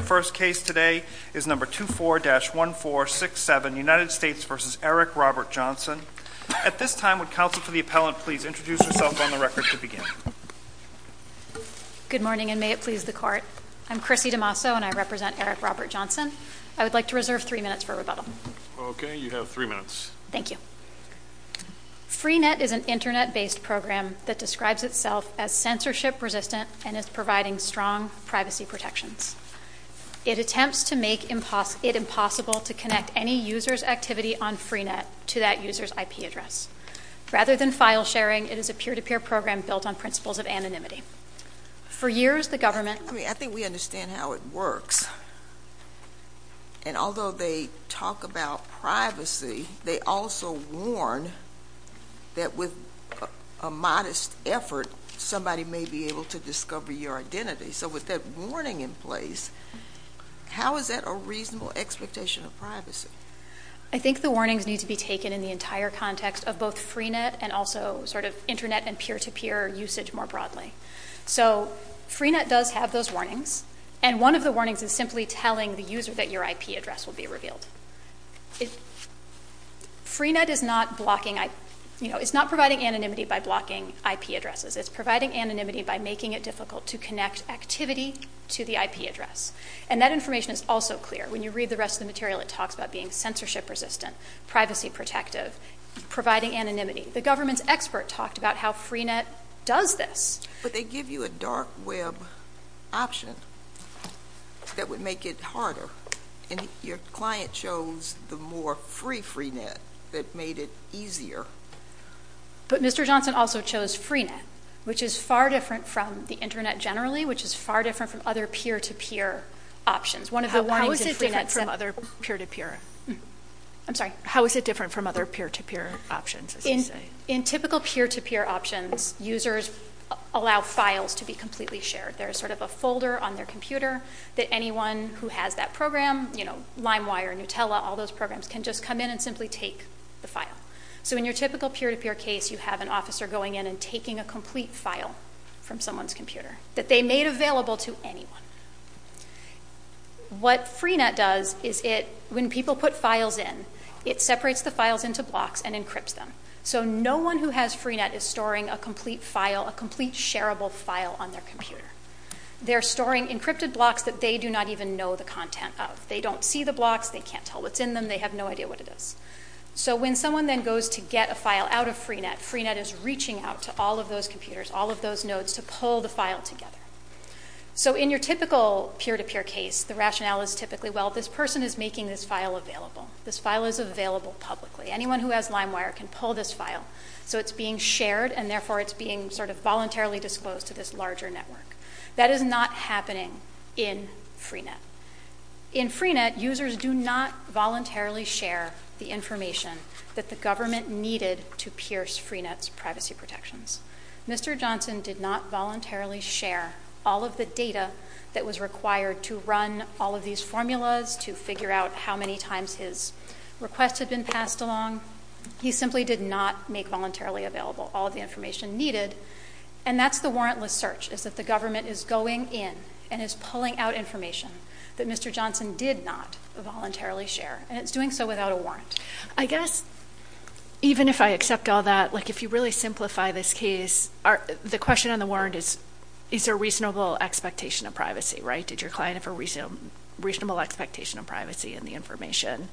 The first case today is number 24-1467, United States v. Eric Robert Johnson. At this time, would counsel for the appellant please introduce herself on the record to begin? Good morning, and may it please the court. I'm Chrissy DeMasso, and I represent Eric Robert Johnson. I would like to reserve three minutes for rebuttal. Okay, you have three minutes. Thank you. FreeNet is an internet-based program that describes itself as censorship-resistant and is providing strong privacy protections. It attempts to make it impossible to connect any user's activity on FreeNet to that user's IP address. Rather than file sharing, it is a peer-to-peer program built on principles of anonymity. For years, the government— I think we understand how it works. And although they talk about privacy, they also warn that with a modest effort, somebody may be able to discover your identity. So with that warning in place, how is that a reasonable expectation of privacy? I think the warnings need to be taken in the entire context of both FreeNet and also sort of internet and peer-to-peer usage more broadly. So FreeNet does have those warnings, and one of the warnings is simply telling the user that your IP address will be revealed. FreeNet is not blocking—you know, it's not providing anonymity by blocking IP addresses. It's providing anonymity by making it difficult to connect activity to the IP address. And that information is also clear. When you read the rest of the material, it talks about being censorship-resistant, privacy-protective, providing anonymity. The government's expert talked about how FreeNet does this. But they give you a dark web option that would make it harder, and your client chose the more free FreeNet that made it easier. But Mr. Johnson also chose FreeNet, which is far different from the internet generally, which is far different from other peer-to-peer options. One of the warnings in FreeNet— How is it different from other peer-to-peer? I'm sorry. How is it different from other peer-to-peer options, as you say? In typical peer-to-peer options, users allow files to be completely shared. There's sort of a folder on their computer that anyone who has that program—you know, LimeWire, Nutella, all those programs—can just come in and simply take the file. So in your typical peer-to-peer case, you have an officer going in and taking a complete file from someone's computer that they made available to anyone. What FreeNet does is it, when people put files in, it separates the files into blocks and encrypts them. So no one who has FreeNet is storing a complete file, a complete shareable file on their computer. They're storing encrypted blocks that they do not even know the content of. They don't see the blocks. They can't tell what's in them. They have no idea what it is. So when someone then goes to get a file out of FreeNet, FreeNet is reaching out to all of those computers, all of those nodes, to pull the file together. So in your typical peer-to-peer case, the rationale is typically, well, this person is making this file available. This file is available publicly. Anyone who has LimeWire can pull this file. So it's being shared, and therefore, it's being sort of voluntarily disclosed to this larger network. That is not happening in FreeNet. In FreeNet, users do not voluntarily share the information that the government needed to pierce FreeNet's privacy protections. Mr. Johnson did not voluntarily share all of the data that was required to run all of these formulas, to figure out how many times his requests had been passed along. He simply did not make voluntarily available all of the information needed. And that's the warrantless search, is that the government is going in and is pulling out information that Mr. Johnson did not voluntarily share, and it's doing so without a warrant. I guess, even if I accept all that, like, if you really simplify this case, the question on the warrant is, is there a reasonable expectation of privacy, right? Did your client have a reasonable expectation of privacy in the information?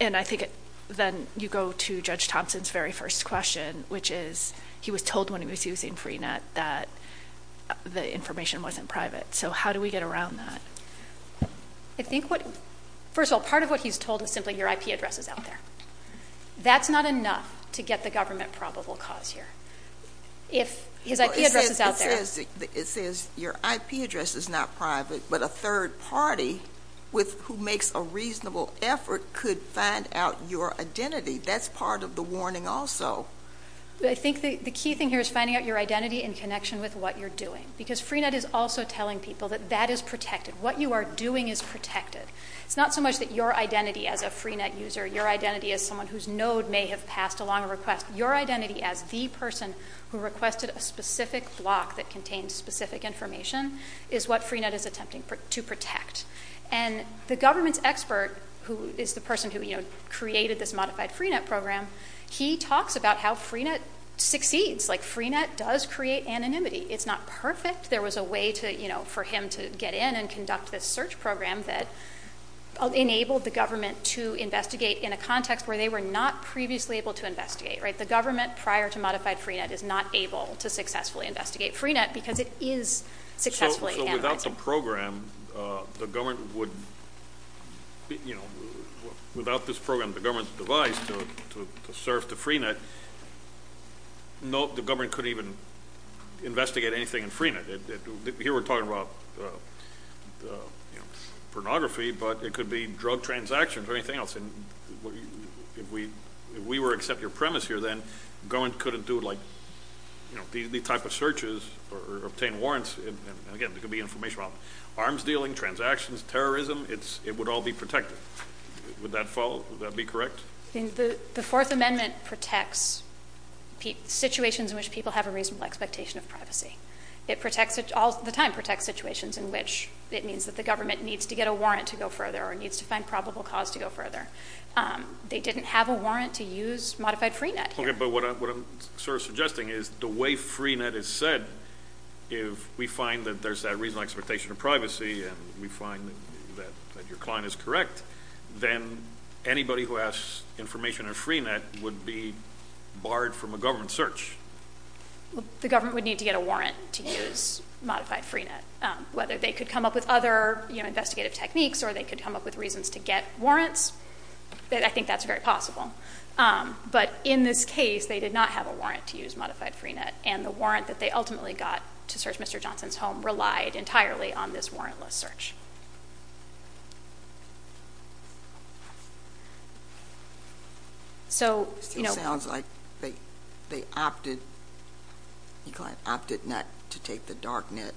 And I think then you go to Judge Thompson's very first question, which is, he was told when he was using FreeNet that the information wasn't private. So, how do we get around that? I think what, first of all, part of what he's told is simply your IP address is out there. That's not enough to get the government probable cause here. If his IP address is out there. It says your IP address is not private, but a third party with, who makes a reasonable effort could find out your identity. That's part of the warning also. I think the key thing here is finding out your identity in connection with what you're doing. Because FreeNet is also telling people that that is protected. What you are doing is protected. It's not so much that your identity as a FreeNet user, your identity as someone whose node may have passed along a request, your identity as the person who requested a specific block that contains specific information is what FreeNet is attempting to protect. And the government's expert, who is the person who, you know, created this modified FreeNet program, he talks about how FreeNet succeeds. Like FreeNet does create anonymity. It's not perfect. There was a way to, you know, for him to get in and conduct this search program that enabled the government to investigate in a context where they were not previously able to investigate. Right? The government prior to modified FreeNet is not able to successfully investigate FreeNet because it is successfully anonymized. So without the program, the government would, you know, without this program, the government's advice to serve to FreeNet, no, the government couldn't even investigate anything in FreeNet. Here we're talking about, you know, pornography, but it could be drug transactions or anything else. And if we were to accept your premise here, then government couldn't do like, you know, the type of searches or obtain warrants. And again, there could be information about arms dealing, transactions, terrorism. It would all be protected. Would that follow? Is that correct? I think the Fourth Amendment protects situations in which people have a reasonable expectation of privacy. It protects, all the time, protects situations in which it means that the government needs to get a warrant to go further or needs to find probable cause to go further. They didn't have a warrant to use modified FreeNet here. Okay. But what I'm sort of suggesting is the way FreeNet is said, if we find that there's that reasonable expectation of privacy and we find that your client is correct, then anybody who asks information in FreeNet would be barred from a government search. The government would need to get a warrant to use modified FreeNet. Whether they could come up with other, you know, investigative techniques or they could come up with reasons to get warrants, I think that's very possible. But in this case, they did not have a warrant to use modified FreeNet. And the warrant that they ultimately got to search Mr. Johnson's home relied entirely on this warrantless search. So you know. It sounds like they opted, the client opted not to take the dark net.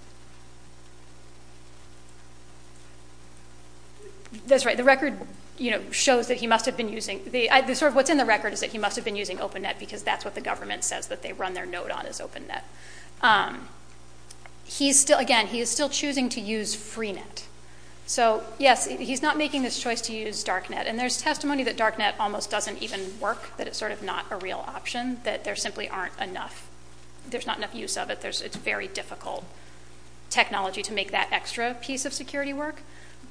That's right. The record, you know, shows that he must have been using, sort of what's in the record is that he must have been using OpenNet because that's what the government says that they run their note on is OpenNet. He's still, again, he is still choosing to use FreeNet. So yes, he's not making this choice to use dark net. And there's testimony that dark net almost doesn't even work, that it's sort of not a real option, that there simply aren't enough, there's not enough use of it. It's very difficult technology to make that extra piece of security work.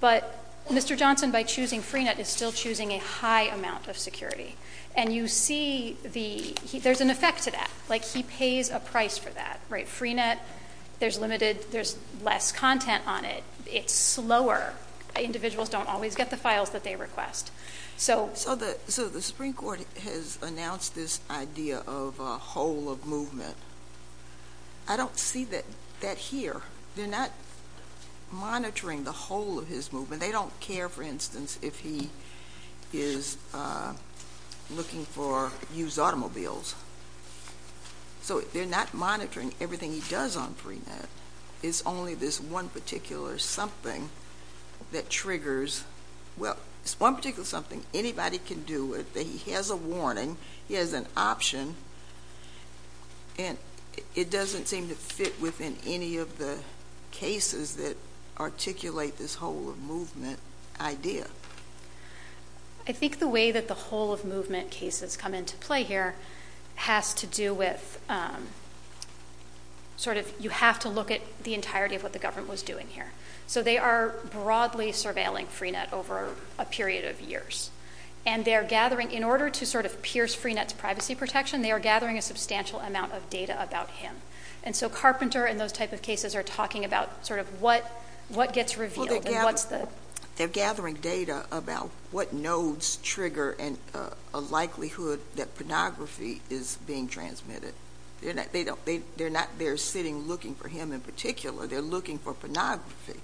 But Mr. Johnson, by choosing FreeNet, is still choosing a high amount of security. And you see the, there's an effect to that. Like he pays a price for that, right? FreeNet, there's limited, there's less content on it. It's slower. Individuals don't always get the files that they request. So the Supreme Court has announced this idea of a whole of movement. I don't see that here. They're not monitoring the whole of his movement. And they don't care, for instance, if he is looking for used automobiles. So they're not monitoring everything he does on FreeNet. It's only this one particular something that triggers, well, it's one particular something anybody can do, that he has a warning, he has an option, and it doesn't seem to fit within any of the cases that articulate this whole of movement idea. I think the way that the whole of movement cases come into play here has to do with sort of, you have to look at the entirety of what the government was doing here. So they are broadly surveilling FreeNet over a period of years. And they're gathering, in order to sort of pierce FreeNet's privacy protection, they are gathering a substantial amount of data about him. And so Carpenter and those type of cases are talking about sort of what gets revealed and what's the... They're gathering data about what nodes trigger a likelihood that pornography is being transmitted. They're sitting looking for him in particular. They're looking for pornography.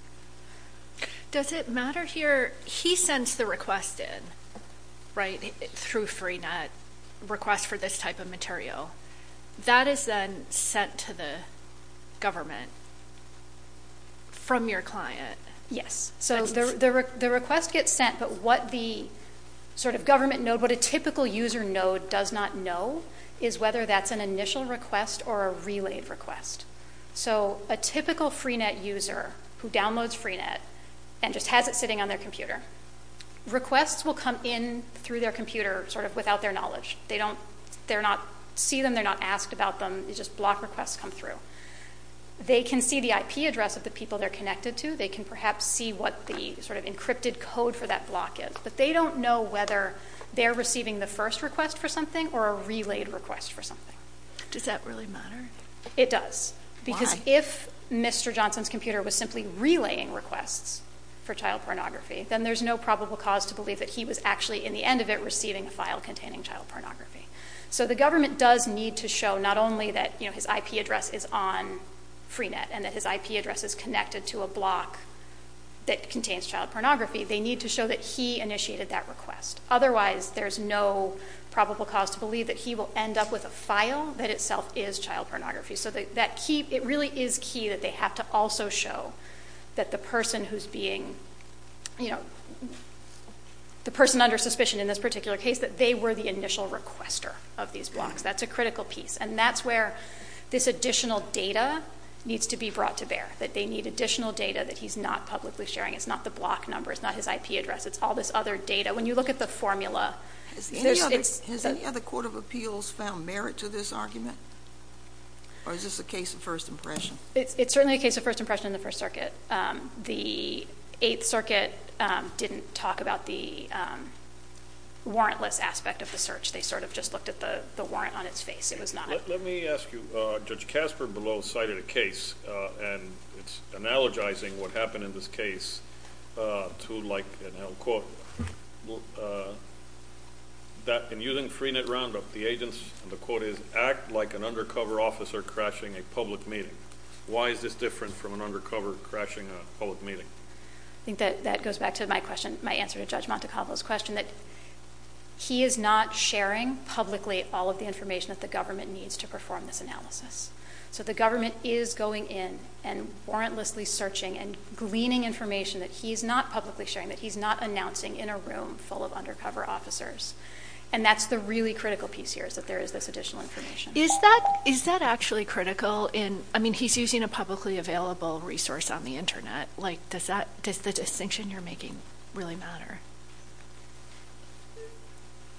Does it matter here, he sends the request in, right, through FreeNet, request for this type of material. That is then sent to the government from your client. Yes. So the request gets sent, but what the sort of government node, what a typical user node does not know is whether that's an initial request or a relayed request. So a typical FreeNet user who downloads FreeNet and just has it sitting on their computer, requests will come in through their computer sort of without their knowledge. They don't... They're not... See them, they're not asked about them, it's just block requests come through. They can see the IP address of the people they're connected to, they can perhaps see what the sort of encrypted code for that block is, but they don't know whether they're receiving the first request for something or a relayed request for something. Does that really matter? It does. Why? Because if Mr. Johnson's computer was simply relaying requests for child pornography, then there's no probable cause to believe that he was actually in the end of it receiving a file containing child pornography. So the government does need to show not only that his IP address is on FreeNet and that his IP address is connected to a block that contains child pornography, they need to show that he initiated that request. Otherwise, there's no probable cause to believe that he will end up with a file that itself is child pornography. So that key... It really is key that they have to also show that the person who's being... The person under suspicion in this particular case, that they were the initial requester of these blocks. That's a critical piece. And that's where this additional data needs to be brought to bear, that they need additional data that he's not publicly sharing. It's not the block number. It's not his IP address. It's all this other data. When you look at the formula... Has any other court of appeals found merit to this argument, or is this a case of first impression? It's certainly a case of first impression in the First Circuit. The Eighth Circuit didn't talk about the warrantless aspect of the search. They sort of just looked at the warrant on its face. It was not... Let me ask you. Judge Casper below cited a case, and it's analogizing what happened in this case to, like an L quote, that in using FreeNet Roundup, the agents, and the quote is, act like an undercover officer crashing a public meeting. Why is this different from an undercover crashing a public meeting? I think that goes back to my question, my answer to Judge Montecavolo's question, that he is not sharing publicly all of the information that the government needs to perform this So the government is going in and warrantlessly searching and gleaning information that he's not publicly sharing, that he's not announcing in a room full of undercover officers. And that's the really critical piece here, is that there is this additional information. Is that actually critical in... I mean, he's using a publicly available resource on the internet. Like, does the distinction you're making really matter?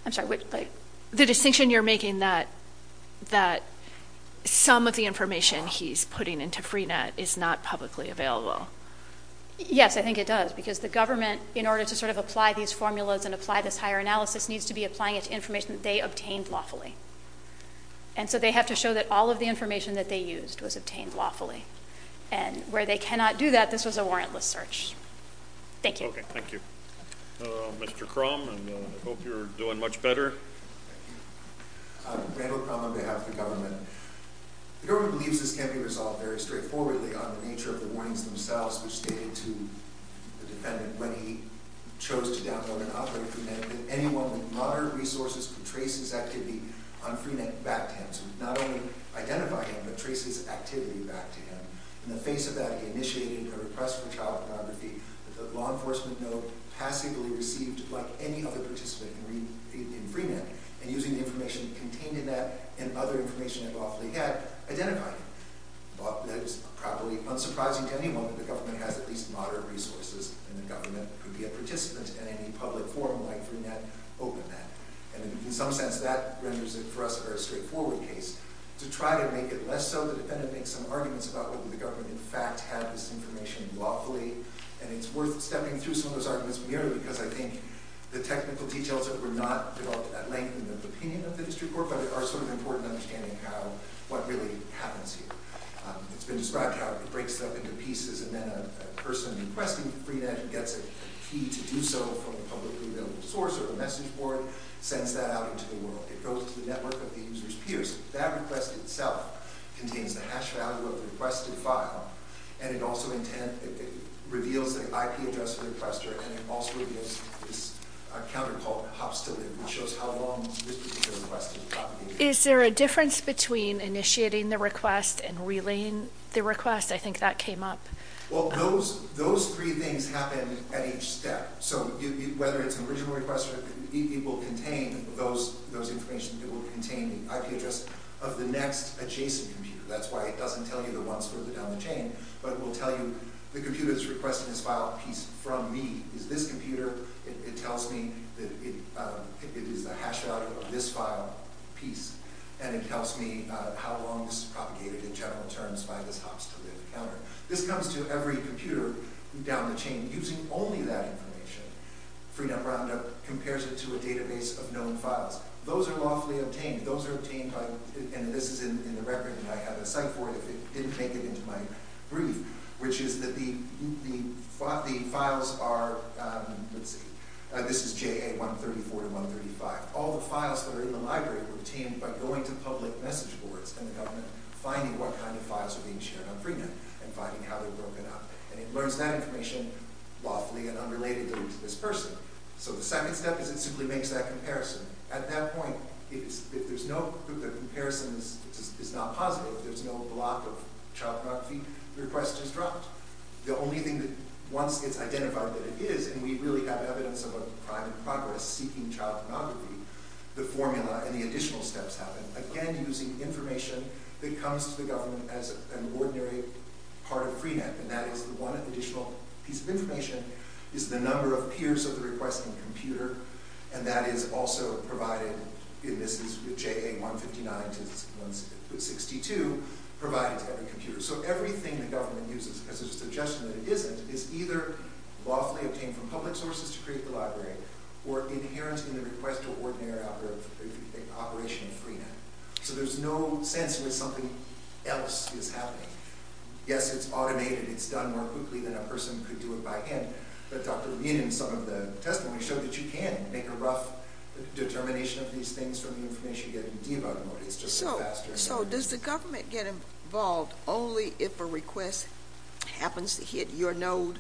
I'm sorry, what? The distinction you're making that some of the information he's putting into FreeNet is not publicly available. Yes, I think it does, because the government, in order to sort of apply these formulas and apply this higher analysis, needs to be applying it to information that they obtained lawfully. And so they have to show that all of the information that they used was obtained lawfully. And where they cannot do that, this was a warrantless search. Thank you. Okay, thank you. Mr. Crum, and I hope you're doing much better. Randall Crum on behalf of the government. The government believes this can be resolved very straightforwardly on the nature of the warnings themselves, which stated to the defendant when he chose to download and operate FreeNet that anyone with moderate resources could trace his activity on FreeNet back to him. So not only identify him, but trace his activity back to him. In the face of that, he initiated a request for child pornography that the law enforcement node passively received, like any other participant in FreeNet, and using the information contained in that and other information they've awfully had, identified him. That is probably unsurprising to anyone that the government has at least moderate resources and the government could be a participant in any public forum like FreeNet open that. And in some sense, that renders it for us a very straightforward case. To try to make it less so, the defendant makes some arguments about whether the government in fact had this information lawfully, and it's worth stepping through some of those arguments merely because I think the technical details that were not developed at length in the opinion of the district court, but are sort of important in understanding how what really happens here. It's been described how it breaks stuff into pieces and then a person requesting FreeNet gets a key to do so from a publicly available source or a message board, sends that out into the world. It goes to the network of the user's peers. That request itself contains the hash value of the requested file and it also reveals the IP address of the requester and it also reveals this counter called hops to live which shows how long this particular request has been propagated. Is there a difference between initiating the request and relaying the request? I think that came up. Those three things happen at each step. Whether it's an original request, it will contain those information. It will contain the IP address of the next adjacent computer. That's why it doesn't tell you the ones further down the chain, but it will tell you the computer that's requesting this file piece from me is this computer. It tells me it is the hash value of this file piece and it tells me how long this is propagated in general terms by this hops to live counter. This comes to every computer down the chain using only that information. FreeNet Roundup compares it to a database of known files. Those are lawfully obtained. Those are obtained by and this is in the record and I have a cite for it if it didn't make it into my brief which is that the files are this is JA 134-135 all the files that are in the library were obtained by going to public message boards and the government finding what kind of files are being shared on FreeNet and finding how they're broken up and it learns that information lawfully and unrelatedly to this person. So the second step is it simply makes that comparison. At that point if the comparison is not positive, if there's no block of child pornography, the request is dropped. The only thing once it's identified that it is and we really have evidence of a crime in progress seeking child pornography, the formula and the additional steps happen again using information that comes to the government as an ordinary part of FreeNet and that is the one additional piece of information is the number of peers of the requesting computer and that is also provided and this is JA 159 to 162 provided to every computer. So everything the government uses as a suggestion that it isn't is either lawfully obtained from public sources to create the library or inherent in the request to ordinary operation of FreeNet. So there's no sense that something else is happening. Yes, it's automated, it's done more quickly than a person could do it by hand, but Dr. Lien in some of the testimony showed that you can make a rough determination of these things from the information you get in debug mode, it's just faster. So does the government get involved only if a request happens to hit your node?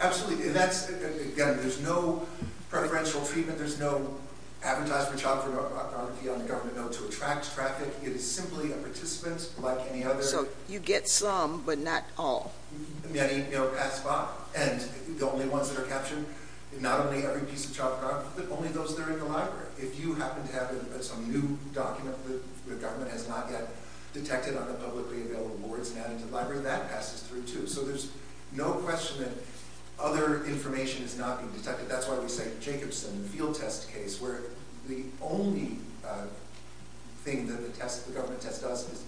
Absolutely, again there's no preferential treatment there's no advertisement of child pornography on the government node to attract traffic it is simply a participant like any other. So you get some but not all. Many pass by and the only ones that are captured, not only every piece of child pornography but only those that are in the library. If you happen to have some new document that the government has not yet detected on the publicly available boards and added to the library, that passes through too. So there's no question that other information is not being detected that's why we say Jacobson field test case where the only thing that the government test does is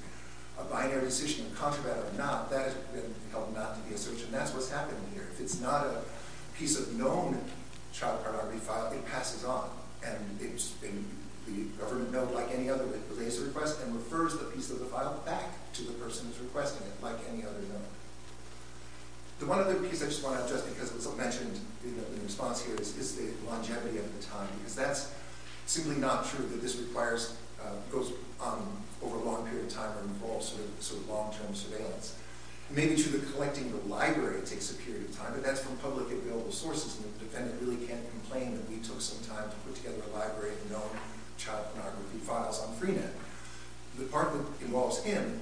a binary decision, a contraband or not, that has been held not to be a search and that's what's happening here. If it's not a piece of known child pornography file, it passes on and the government node like any other it delays the request and refers the piece of the file back to the person who is requesting it like any other node. The one other piece I just want to address because it was mentioned in the response here is the longevity of the time because that's simply not true that this requires over a long period of time involves long term surveillance it may be true that collecting the library takes a period of time but that's from public available sources and the defendant really can't complain that we took some time to put together a library of known child pornography files on Freenet. The part that involves him,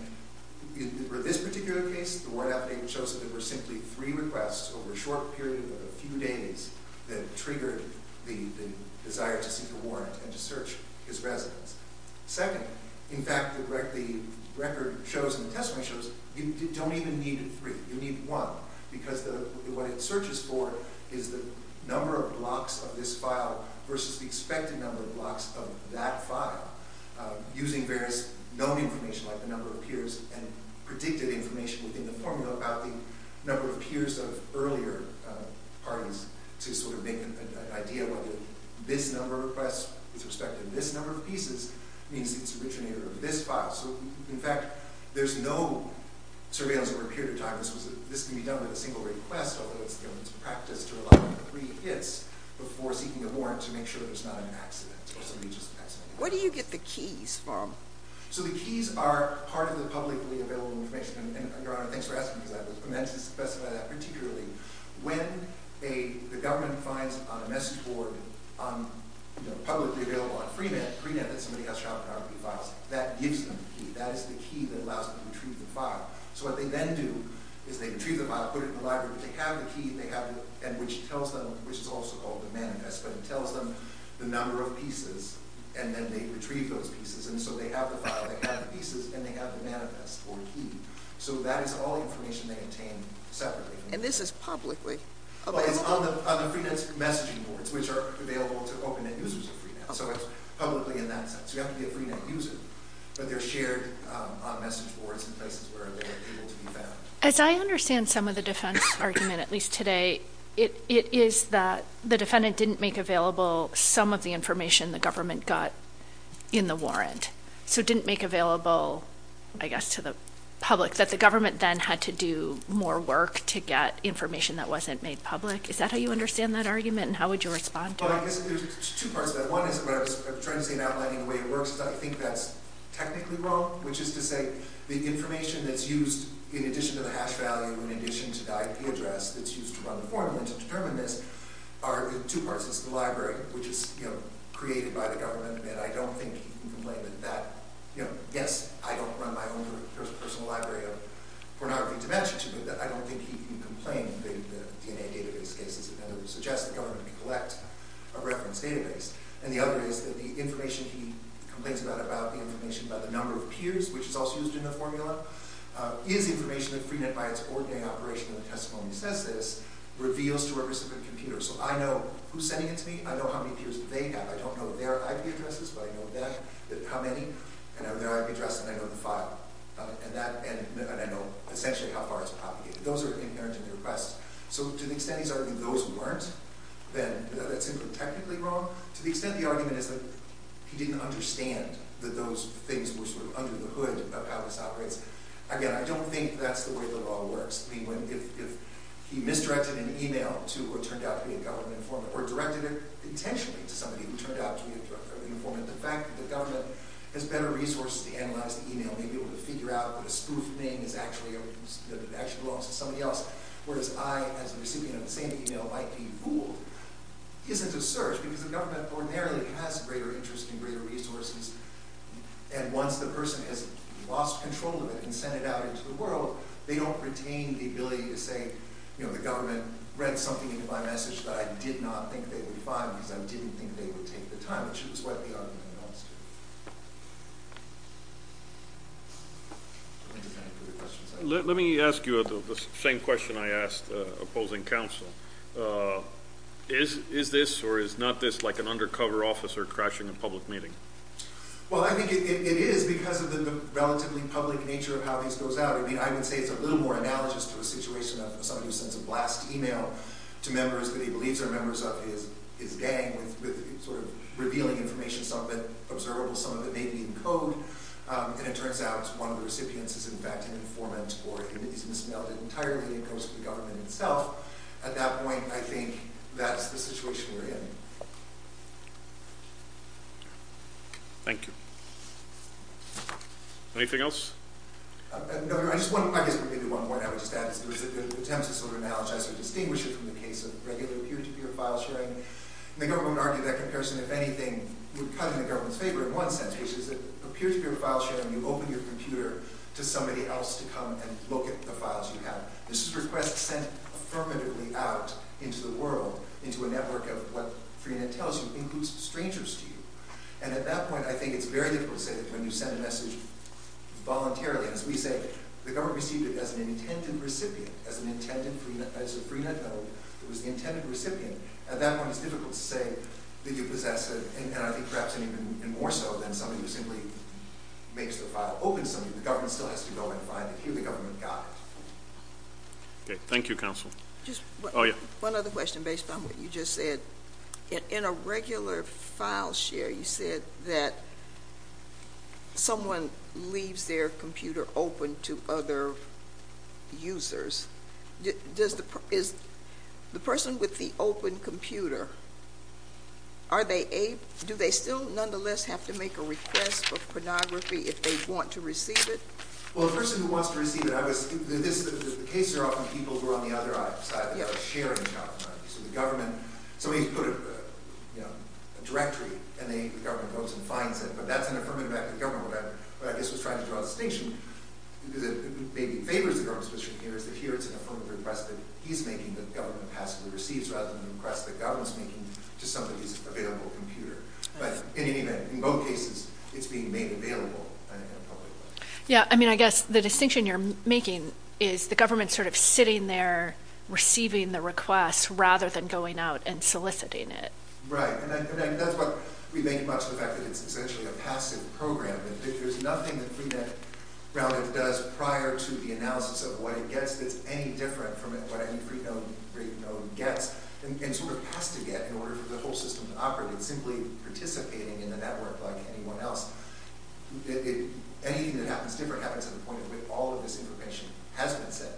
for this particular case, the word update shows that there were simply three requests over a short period of a few days that triggered the desire to seek a warrant and to search his residence. Second, in fact the record shows and the testimony shows you don't even need three, you need one because what it searches for is the number of blocks of this file versus the expected number of blocks of that file using various known information like the number of peers and predicted information within the formula about the number of peers of earlier parties to sort of make an idea whether this number of requests with respect to this number of pieces means it's the originator of this file. So in fact there's no surveillance over a period of time this can be done with a single request although it's practiced to allow three hits before seeking a warrant to make sure it's not an accident. What do you get the keys from? So the keys are part of the publicly available information and Your Honor, thanks for asking me that and to specify that particularly, when the government finds a message board publicly available on Freenet that somebody has child pornography files, that gives them the key. That is the key that allows them to retrieve the file. So what they then do is they retrieve the file, put it in the library they have the key and which tells them, which is also called the manifest but it tells them the number of pieces and then they retrieve those pieces and so they have the file, they have the pieces and they have the manifest or key so that is all the information they obtain separately. And this is publicly? Well it's on the Freenet's messaging boards which are available to open end users of Freenet so it's publicly in that sense. You have to be a Freenet user but they're shared on message boards and places where they're able to be found. As I understand some of the defense argument at least today it is that the defendant didn't make available some of the information the government got in the warrant. So it didn't make available I guess to the public that the government then had to do more work to get information that wasn't made public. Is that how you understand that argument and how would you respond to that? Well I guess there's two parts to that. One is what I was trying to say in outlining the way it works but I think that's technically wrong which is to say the information that's used in addition to the hash value, in addition to the IP address that's used to run the formula to determine this are in two parts it's the library which is created by the government and I don't think he can complain that, yes I don't run my own personal library of pornography to match it to but I don't think he can complain that the DNA database cases suggest that the government can collect a reference database and the other is that the information he complains about the information about the number of peers which is also used in the formula is information that Freenet by it's ordinary operation of the testimony says this reveals to a specific computer. So I know who's sending it to me, I know how many peers they have I don't know their IP addresses but I know them, how many and their IP address and I know the file and I know essentially how far it's propagated. Those are inherently the requests. So to the extent he's arguing those who weren't then that's technically wrong. To the extent the argument is that he didn't understand that those things were sort of under the hood of how this operates, again I don't think that's the way the law works if he misdirected an email to what turned out to be a government informant or directed it intentionally to somebody who turned out to be a government informant the fact that the government has better resources to analyze the email and be able to figure out what a spoof name is that actually belongs to somebody else whereas I as a recipient of the same email might be fooled isn't a search because the government ordinarily has greater interest and greater resources and once the person has lost control of it and sent it out into the world they don't retain the ability to say you know the government read something into my message that I did not think they would find because I didn't think they would take the time to choose what the argument amounts to. Let me ask you the same question I asked opposing counsel. Is this or is not this like an undercover officer crashing a public meeting? Well I think it is because of the relatively public nature of how this goes out I would say it's a little more analogous to a situation of somebody who sends a blast email to members that he believes are members of his gang revealing information, some of it observable, some of it maybe in code and it turns out one of the recipients is in fact an informant or he's mis-mailed it entirely and it goes to the government itself at that point I think that's the situation we're in. Thank you. Anything else? I guess maybe one more and I would just add that the attempts to sort of analogize or distinguish it from the case of regular peer-to-peer file sharing and the government would argue that comparison if anything would cut in the government's favor in one sense which is that a peer-to-peer file sharing you open your computer to somebody else to come and look at the files you have. This request sent affirmatively out into the world into a network of what Freenet tells you includes strangers to you and at that point I think it's very difficult to say that when you send a message voluntarily as we say the government received it as an intended recipient as a Freenet note, it was the intended recipient, at that point it's difficult to say that you possess it and I think perhaps even more so than somebody who simply makes the file open to somebody the government still has to go and find it. Here the government got it. Thank you counsel. One other question based on what you just said. In a regular file share you said that someone leaves their computer open to other users is the person with the open computer do they still nonetheless have to make a request for pornography if they want to receive it? Well the person who wants to receive it, the cases are often people who are on the other side of the sharing platform. So the government, somebody put a directory and the government goes and finds it but that's an affirmative act of the government. What I guess was trying to draw the distinction that maybe favors the government's position here is that here it's an affirmative request that he's making that the government passively receives rather than a request that the government is making to somebody's available computer. But in both cases it's being made available in a public way. Yeah I mean I guess the distinction you're making is the government sort of sitting there receiving the request rather than going out and soliciting it. Right and that's what we make much of the fact that it's essentially a passive program. There's nothing that Pre-Net Roundup does prior to the analysis of what it gets that's any different from what any pre-known rate node gets and sort of has to get in order for the whole system to operate. It's simply participating in the network like anyone else. Anything that happens different happens to the point where all of this information has been sent,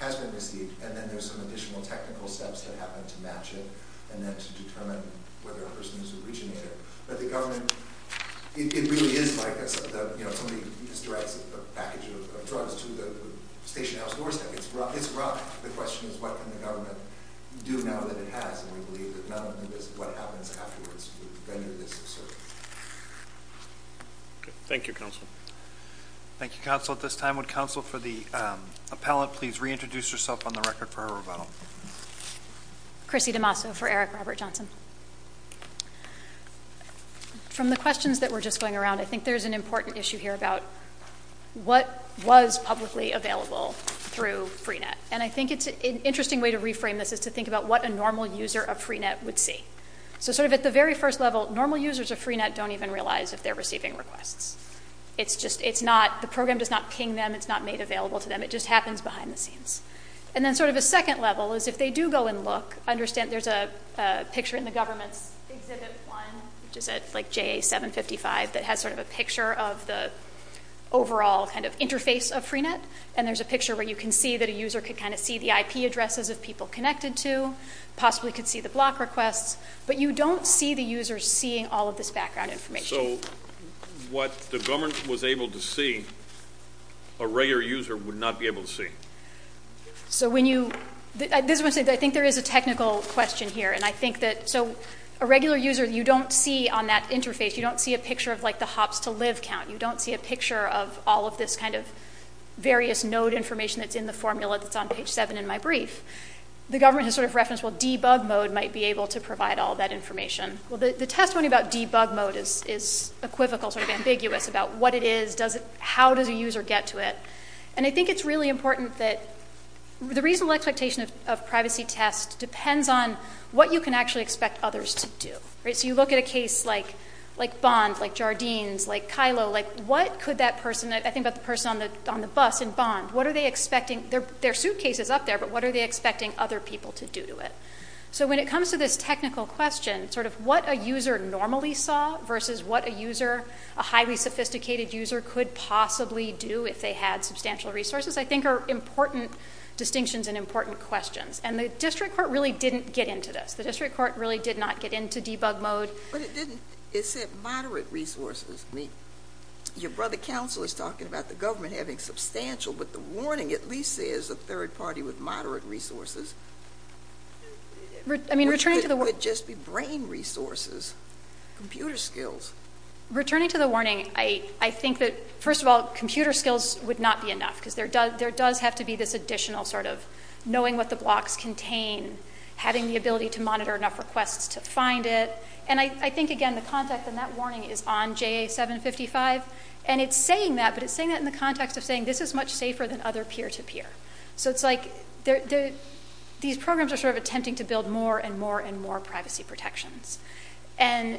has been received and then there's some additional technical steps that happen to match it and then to determine whether a person has originated. But the government, it really is like somebody just directs a package of drugs to the station house doorstep. It's rough. The question is what can the government do now that it has and we believe that none of this, what happens afterwards would render this absurd. Thank you Counsel. Thank you Counsel. At this time would Counsel for the Appellant please reintroduce herself on the record for her rebuttal. Chrissy DiMasso for Eric Robert Johnson. From the questions that were just going around I think there's an important issue here about what was publicly available through Pre-Net and I think an interesting way to reframe this is to think about what a normal user of Pre-Net would see. So sort of at the very first level, normal users of Pre-Net don't even realize if they're receiving requests. It's just, it's not, the program does not ping them, it's not made available to them, it just happens behind the scenes. And then sort of a second level is if they do go and look, understand there's a picture in the government's exhibit one, which is at like JA 755, that has sort of a picture of the overall kind of interface of Pre-Net and there's a picture where you can see that a user could kind of see the IP addresses of people connected to, possibly could see the block requests, but you don't see the user seeing all of this background information. So what the government was able to see a regular user would not be able to see? So when you, I think there is a technical question here and I think that, so a regular user you don't see on that interface, you don't see a picture of like the hops to live count, you don't see a picture of all of this kind of various node information that's in the formula that's on page seven in my brief. The government has sort of referenced, well debug mode might be able to provide all that information. Well the testimony about debug mode is equivocal, sort of ambiguous about what it is, how does a user get to it. And I think it's really important that, the reasonable expectation of privacy test depends on what you can actually expect others to do. So you look at a case like Bond, like Jardines, like Kylo, like what could that person, I think about the person on the bus in Bond, what are they expecting their suitcase is up there, but what are they expecting other people to do to it? So when it comes to this technical question, sort of what a user normally saw versus what a user, a highly sophisticated user could possibly do if they had substantial resources, I think are important distinctions and important questions. And the district court really didn't get into this. The district court really did not get into debug mode. But it didn't, it said moderate resources. Your brother counsel is talking about the government having substantial but the warning at least says a third party with moderate resources. I mean returning to the warning. It would just be brain resources. Computer skills. Returning to the warning, I think that first of all, computer skills would not be enough. Because there does have to be this additional sort of knowing what the blocks contain, having the ability to monitor enough requests to find it. And I think again the context in that warning is on JA 755. And it's saying that but it's saying that in the context of saying this is much safer than other peer-to-peer. So it's like these programs are sort of attempting to build more and more and more privacy protections. And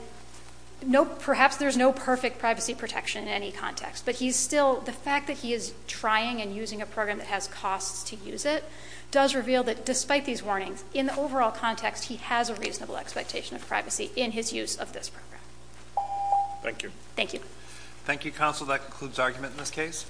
perhaps there's no perfect privacy protection in any context. But he's still, the fact that he is trying and using a program that has costs to use it does reveal that despite these warnings, in the overall context, he has a reasonable expectation of privacy in his use of this program. Thank you. Thank you counsel. That concludes argument in this case.